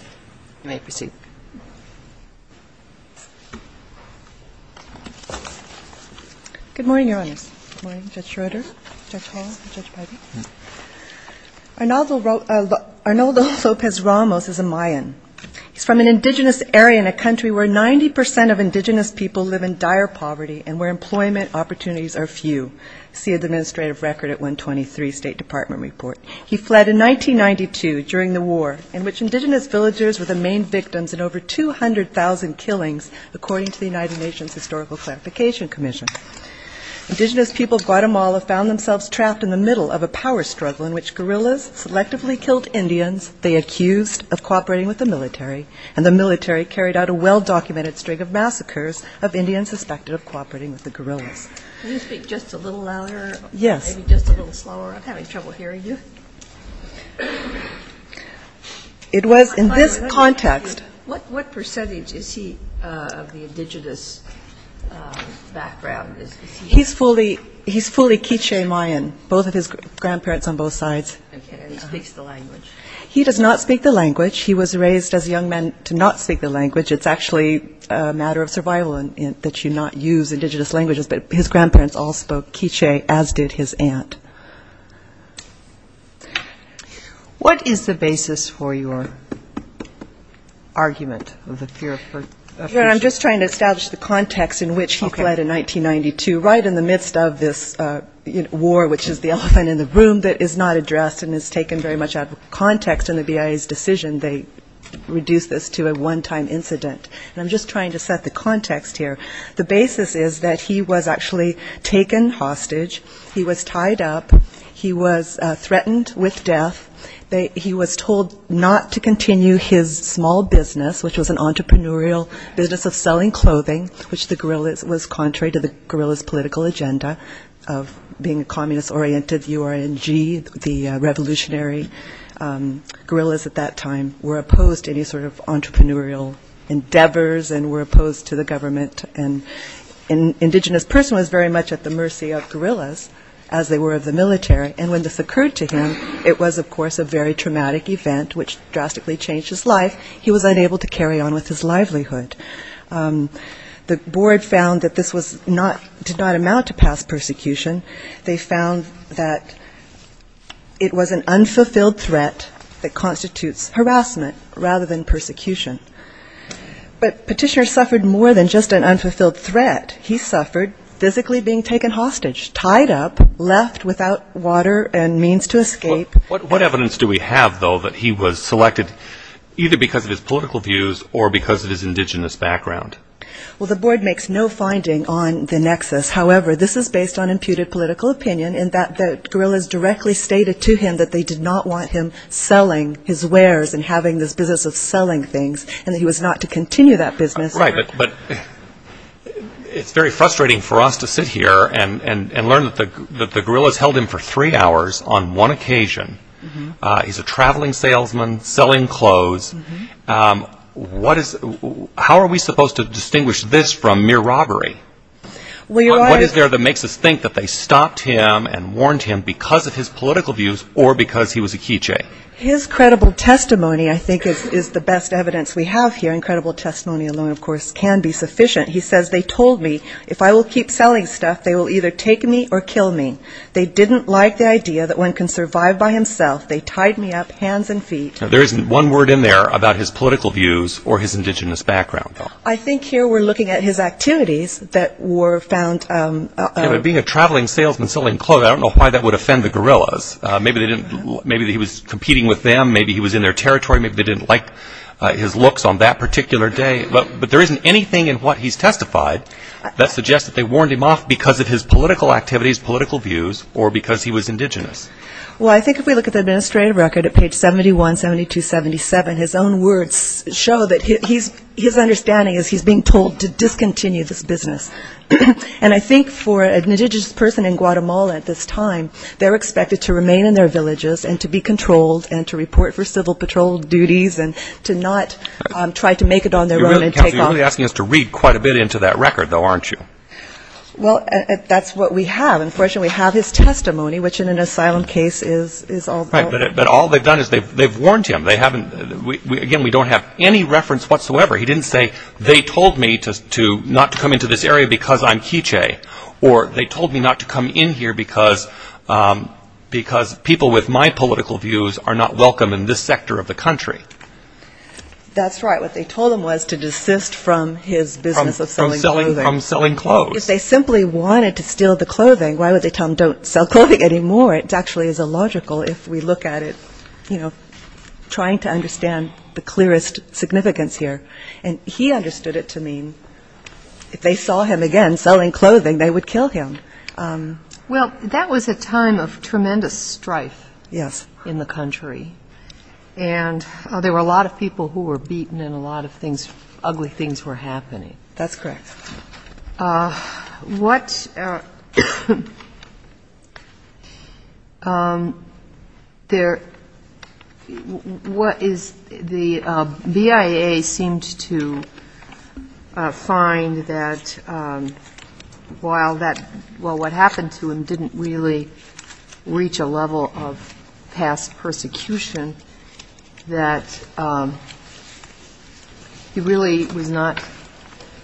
Arnoldo Lopez Ramos is a Mayan. He is from an indigenous area in a country where 90% of indigenous people live in dire poverty and where employment opportunities are few. See the Administrative Record at 123 State Department Report. He fled in 1992 during the war in which indigenous villagers were the main victims in over 200,000 killings according to the United Nations Historical Clarification Commission. Indigenous people of Guatemala found themselves trapped in the middle of a power struggle in which guerrillas selectively killed Indians they accused of cooperating with the military and the military carried out a well-documented string of massacres of Indians suspected of cooperating with the was in this context. What percentage is he of the indigenous background? He is fully K'iche' Mayan, both of his grandparents on both sides. He speaks the language? He does not speak the language. He was raised as a young man to not speak the language. It's actually a matter of survival that you not use indigenous languages but his grandparents all spoke K'iche' as did his aunt. What is the basis for your argument of the fear of persecution? I'm just trying to establish the context in which he fled in 1992, right in the midst of this war which is the elephant in the room that is not addressed and is taken very much out of context in the BIA's decision. They reduced this to a one-time incident. I'm just He was actually taken hostage. He was tied up. He was threatened with death. He was told not to continue his small business which was an entrepreneurial business of selling clothing which the guerrillas was contrary to the guerrillas' political agenda of being a communist-oriented URNG, the revolutionary guerrillas at that time were opposed to any sort of entrepreneurial endeavors and were opposed to the government. An indigenous person was very much at the mercy of guerrillas as they were of the military and when this occurred to him it was of course a very traumatic event which drastically changed his life. He was unable to carry on with his livelihood. The board found that this did not amount to past persecution. They found that it was an unfulfilled threat that constitutes harassment rather than persecution. But Petitioner suffered more than just an unfulfilled threat. He suffered physically being taken hostage, tied up, left without water and means to escape. What evidence do we have though that he was selected either because of his political views or because of his indigenous background? The board makes no finding on the nexus. However, this is based on imputed political opinion in that the guerrillas directly stated to him that they did not want him selling his wares and having this business of selling things and that he was not to continue that business. Right, but it's very frustrating for us to sit here and learn that the guerrillas held him for three hours on one occasion. He's a traveling salesman selling clothes. How are we supposed to distinguish this from mere robbery? What is there that makes us think that they stopped him and warned him because of his political views or because he was a K'iche? His credible testimony I think is the best evidence we have here. Incredible testimony alone of course can be sufficient. He says, they told me if I will keep selling stuff they will either take me or kill me. They didn't like the idea that one can survive by himself. They tied me up hands and feet. There isn't one word in there about his political views or his indigenous background. I think here we're looking at his activities that were found. Being a traveling salesman selling clothes, I don't know why that would offend the guerrillas. Maybe he was competing with them. Maybe he was in their territory. Maybe they didn't like his looks on that particular day. But there isn't anything in what he's testified that suggests that they warned him off because of his political activities, political views or because he was indigenous. Well I think if we look at the administrative record at page 71, 72, 77, his own words show that his understanding is he's being told to discontinue this business. And I think for an indigenous person in Guatemala at this time, they're expected to remain in their villages and to be controlled and to report for civil patrol duties and to not try to make it on their own and take off. You're really asking us to read quite a bit into that record though aren't you? Well that's what we have. Unfortunately we have his testimony which in an asylum case is all Right, but all they've done is they've warned him. They haven't, again we don't have any reference whatsoever. He didn't say they told me not to come into this area because I'm K'iche' or they told me not to come in here because people with my political views are not welcome in this sector of the country. That's right. What they told him was to desist from his business of selling clothing. From selling clothes. If they simply wanted to steal the clothing, why would they tell him don't sell clothing anymore? It actually is illogical if we look at it, you know, trying to understand the significance here. And he understood it to mean if they saw him again selling clothing they would kill him. Well that was a time of tremendous strife in the country. And there were a lot of people who were beaten and a lot of things, ugly things were happening. That's correct. Well, what is, the BIA seemed to find that while what happened to him didn't really reach a level of past persecution, that he really was not,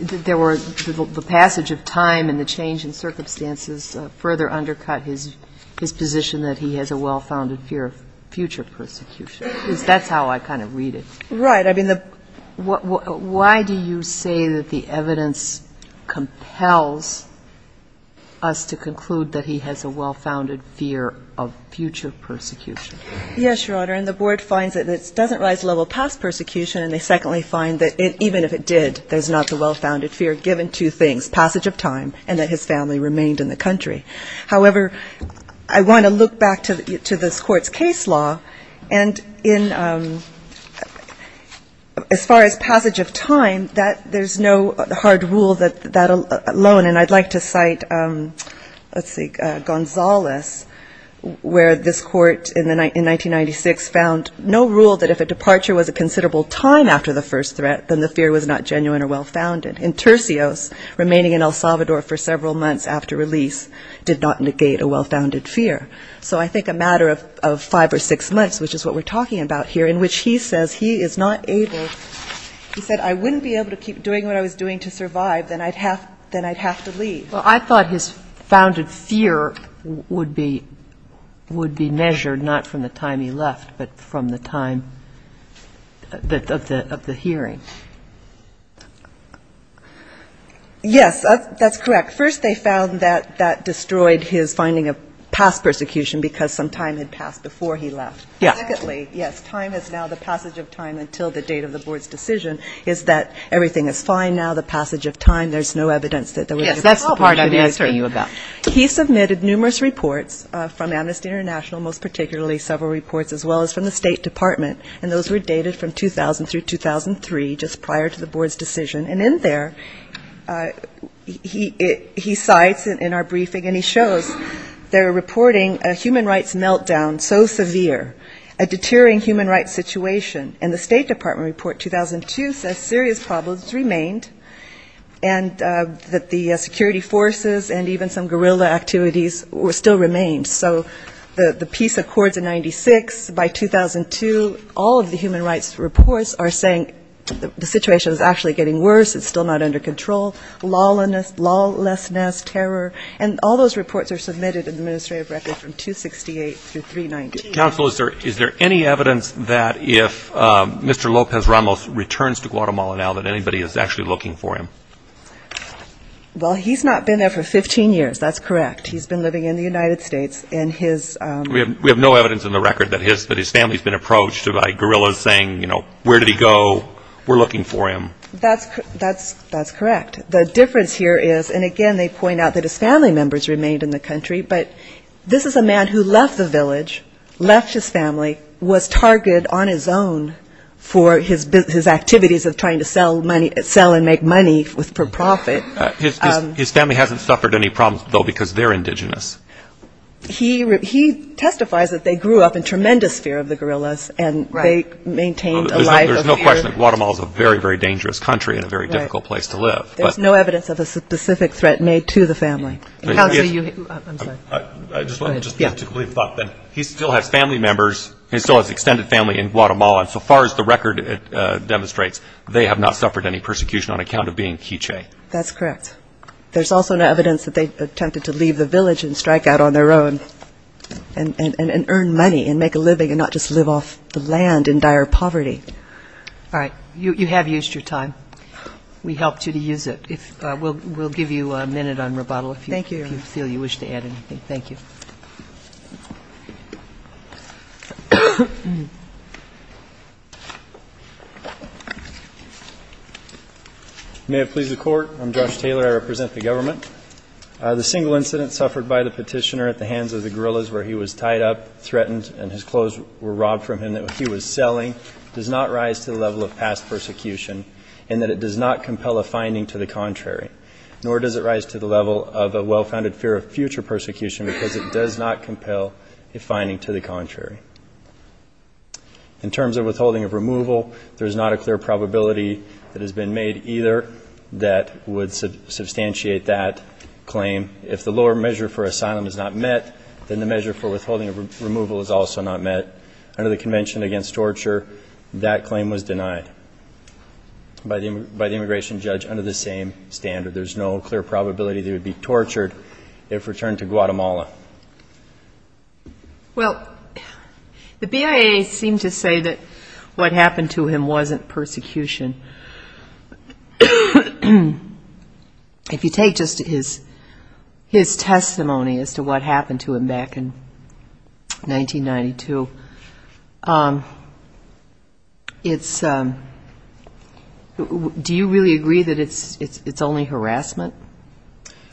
the passage of time and the change in circumstances further undercut his position that he has a well-founded fear of future persecution. That's how I kind of read it. Right. I mean, why do you say that the evidence compels us to conclude that he has a well-founded fear of future persecution? Yes, Your Honor. And the board finds that it doesn't rise to the level of past persecution and they secondly find that even if it did, there's not the well-founded fear given to things, passage of time and that his family remained in the country. However, I want to look back to this Court's case law and in, as far as passage of time, there's no hard rule that alone, and I'd like to cite, let's see, Gonzales, where this court in 1996 found no rule that if a departure was a considerable time after the first threat, then the fear was not genuine or well-founded. And Tercios, remaining in El Salvador for several months after release, did not negate a well-founded fear. So I think a matter of five or six months, which is what we're talking about here, in I wouldn't be able to keep doing what I was doing to survive, then I'd have to leave. Well, I thought his founded fear would be measured not from the time he left, but from the time of the hearing. Yes, that's correct. First, they found that that destroyed his finding of past persecution because some time had passed before he left. Yes. And secondly, yes, time is now the passage of time until the date of the Board's decision is that everything is fine now, the passage of time, there's no evidence that there was any persecution. Yes, that's the part I'm answering you about. He submitted numerous reports from Amnesty International, most particularly several reports as well as from the State Department, and those were dated from 2000 through 2003, just prior to the Board's decision. And in there, he cites in our briefing, and he shows they're reporting a human rights meltdown so severe, a deterring human rights situation, and the State Department report 2002 says serious problems remained, and that the security forces and even some guerrilla activities still remained. So the peace accords in 96, by 2002, all of the human rights reports are saying the situation is actually getting worse, it's still not under control, lawlessness, terror, and all Counsel, is there any evidence that if Mr. Lopez Ramos returns to Guatemala now that anybody is actually looking for him? Well, he's not been there for 15 years, that's correct. He's been living in the United States, and his... We have no evidence in the record that his family's been approached by guerrillas saying, you know, where did he go, we're looking for him. That's correct. The difference here is, and again, they point out that his family members remained in the village, left his family, was targeted on his own for his activities of trying to sell and make money for profit. His family hasn't suffered any problems, though, because they're indigenous. He testifies that they grew up in tremendous fear of the guerrillas, and they maintained a life of fear. There's no question that Guatemala is a very, very dangerous country and a very difficult place to live. There's no evidence of a specific threat made to the family. And how do you... I'm sorry. Go ahead. I just want to... Yeah. He still has family members. He still has extended family in Guatemala. And so far as the record demonstrates, they have not suffered any persecution on account of being K'iche'. That's correct. There's also no evidence that they attempted to leave the village and strike out on their own and earn money and make a living and not just live off the land in dire poverty. All right. You have used your time. We helped you to use it. We'll give you a minute on rebuttal if you feel you wish to add anything. Thank you. May it please the Court. I'm Josh Taylor. I represent the government. The single incident suffered by the petitioner at the hands of the guerrillas where he was tied up, threatened, and his clothes were robbed from him that he was selling does not rise to the level of past persecution, and that it does not compel a finding Thank you. Thank you. Thank you. Thank you. Thank you. Thank you. Thank you. Thank you. Thank you. Thank you. Thank you. All calm. Are you reporting from Sudbury, Franklin? Oh, I'm cooking almost fried it up. Forgot to report I'm Resident. Okay. I'm staying almost fried. City, I'm staying.'" Pursuing an assault that violated international trade, is a violation against the rights of Sure. I am such a sore nose for that. I don't... Brave. Great person here, and thank you. You were � The BETA seemed to say that what happened to him wasn't persecution. If you take just his testimony as to what happened to him back in 1992, do you really agree that it's only harassment?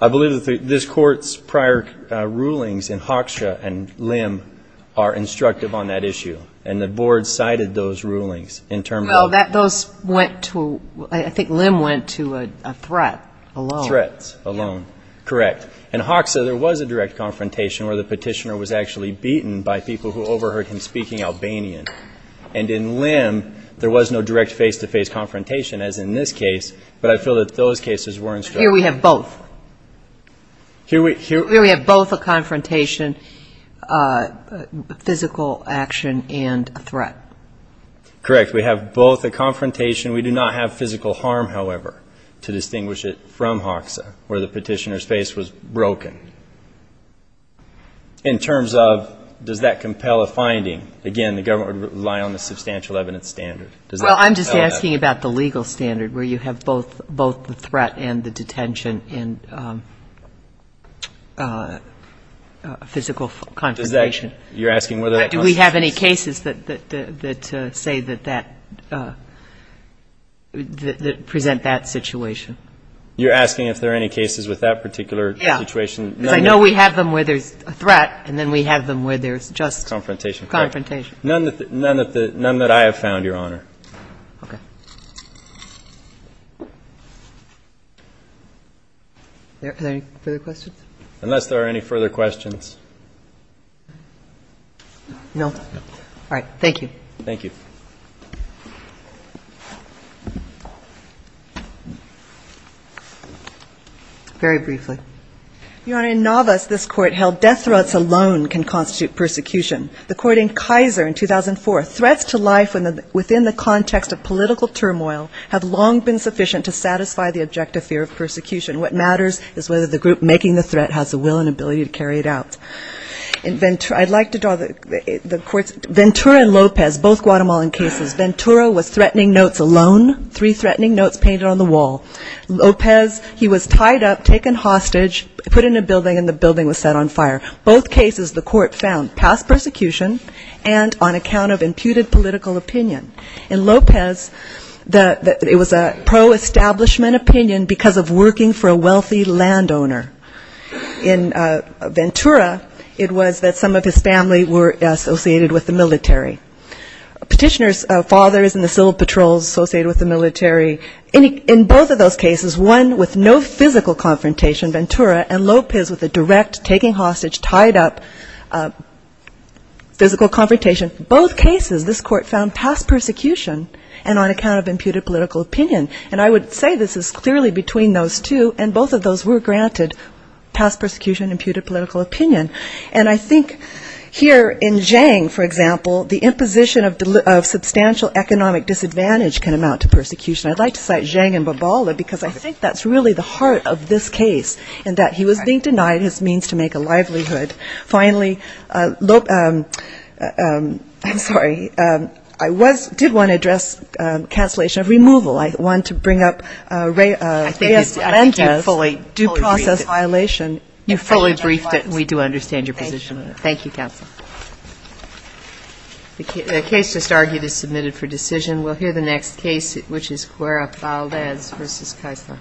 I believe that this court's prior rulings in Hoxha and Lim are instructive on that issue, and the board cited those rulings. Well, I think Lim went to a threat alone. Threats alone, correct. In Hoxha, there was a direct confrontation where the petitioner was actually beaten by people who overheard him speaking Albanian. And in Lim, there was no direct face-to-face confrontation as in this case, but I feel that those cases were instructive. Here we have both. Here we have both a confrontation, physical action, and a threat. Correct. We have both a confrontation. We do not have physical harm, however, to distinguish it from Hoxha where the petitioner's face was broken. In terms of does that compel a finding, again, the government would rely on the substantial evidence standard. Well, I'm just asking about the legal standard where you have both the threat and the detention and physical confrontation. Do we have any cases that say that that, that present that situation? You're asking if there are any cases with that particular situation? Yeah. Because I know we have them where there's a threat and then we have them where there's just confrontation. None that I have found, Your Honor. Okay. Are there any further questions? Unless there are any further questions. No. All right. Thank you. Thank you. Very briefly. Your Honor, in Navas, this court held death threats alone can constitute persecution. The court in Kaiser in 2004, threats to life within the context of political turmoil have long been sufficient to satisfy the objective fear of persecution. What matters is whether the group making the threat has the will and ability to carry it out. I'd like to draw the court's, Ventura and Lopez, both Guatemalan cases. Ventura was threatening notes alone, three threatening notes painted on the wall. Lopez, he was tied up, taken hostage, put in a building and the building was set on fire. Both cases the court found pass persecution and on account of imputed political opinion. In Lopez, it was a pro-establishment opinion because of working for a wealthy landowner. In Ventura, it was that some of his family were associated with the military. Petitioner's father is in the civil patrols associated with the military. In both of those cases, one with no physical confrontation, Ventura, and Lopez with a direct, taking hostage, tied up physical confrontation, both cases this court found pass persecution and on account of imputed political opinion. And I would say this is clearly between those two and both of those were granted pass persecution and imputed political opinion. And I think here in Zhang, for example, the imposition of substantial economic disadvantage can amount to persecution. I'd like to cite Zhang and Bobola because I think that's really the heart of this case and that he was being denied his means to make a livelihood. Finally, I'm sorry, I did want to address cancellation of removal. I want to bring up Reyes-Lendas' due process violation. You fully briefed it. We do understand your position on it. Thank you, counsel. The case just argued is submitted for decision. We'll hear the next case, which is Cuerapaldez v. Keisler.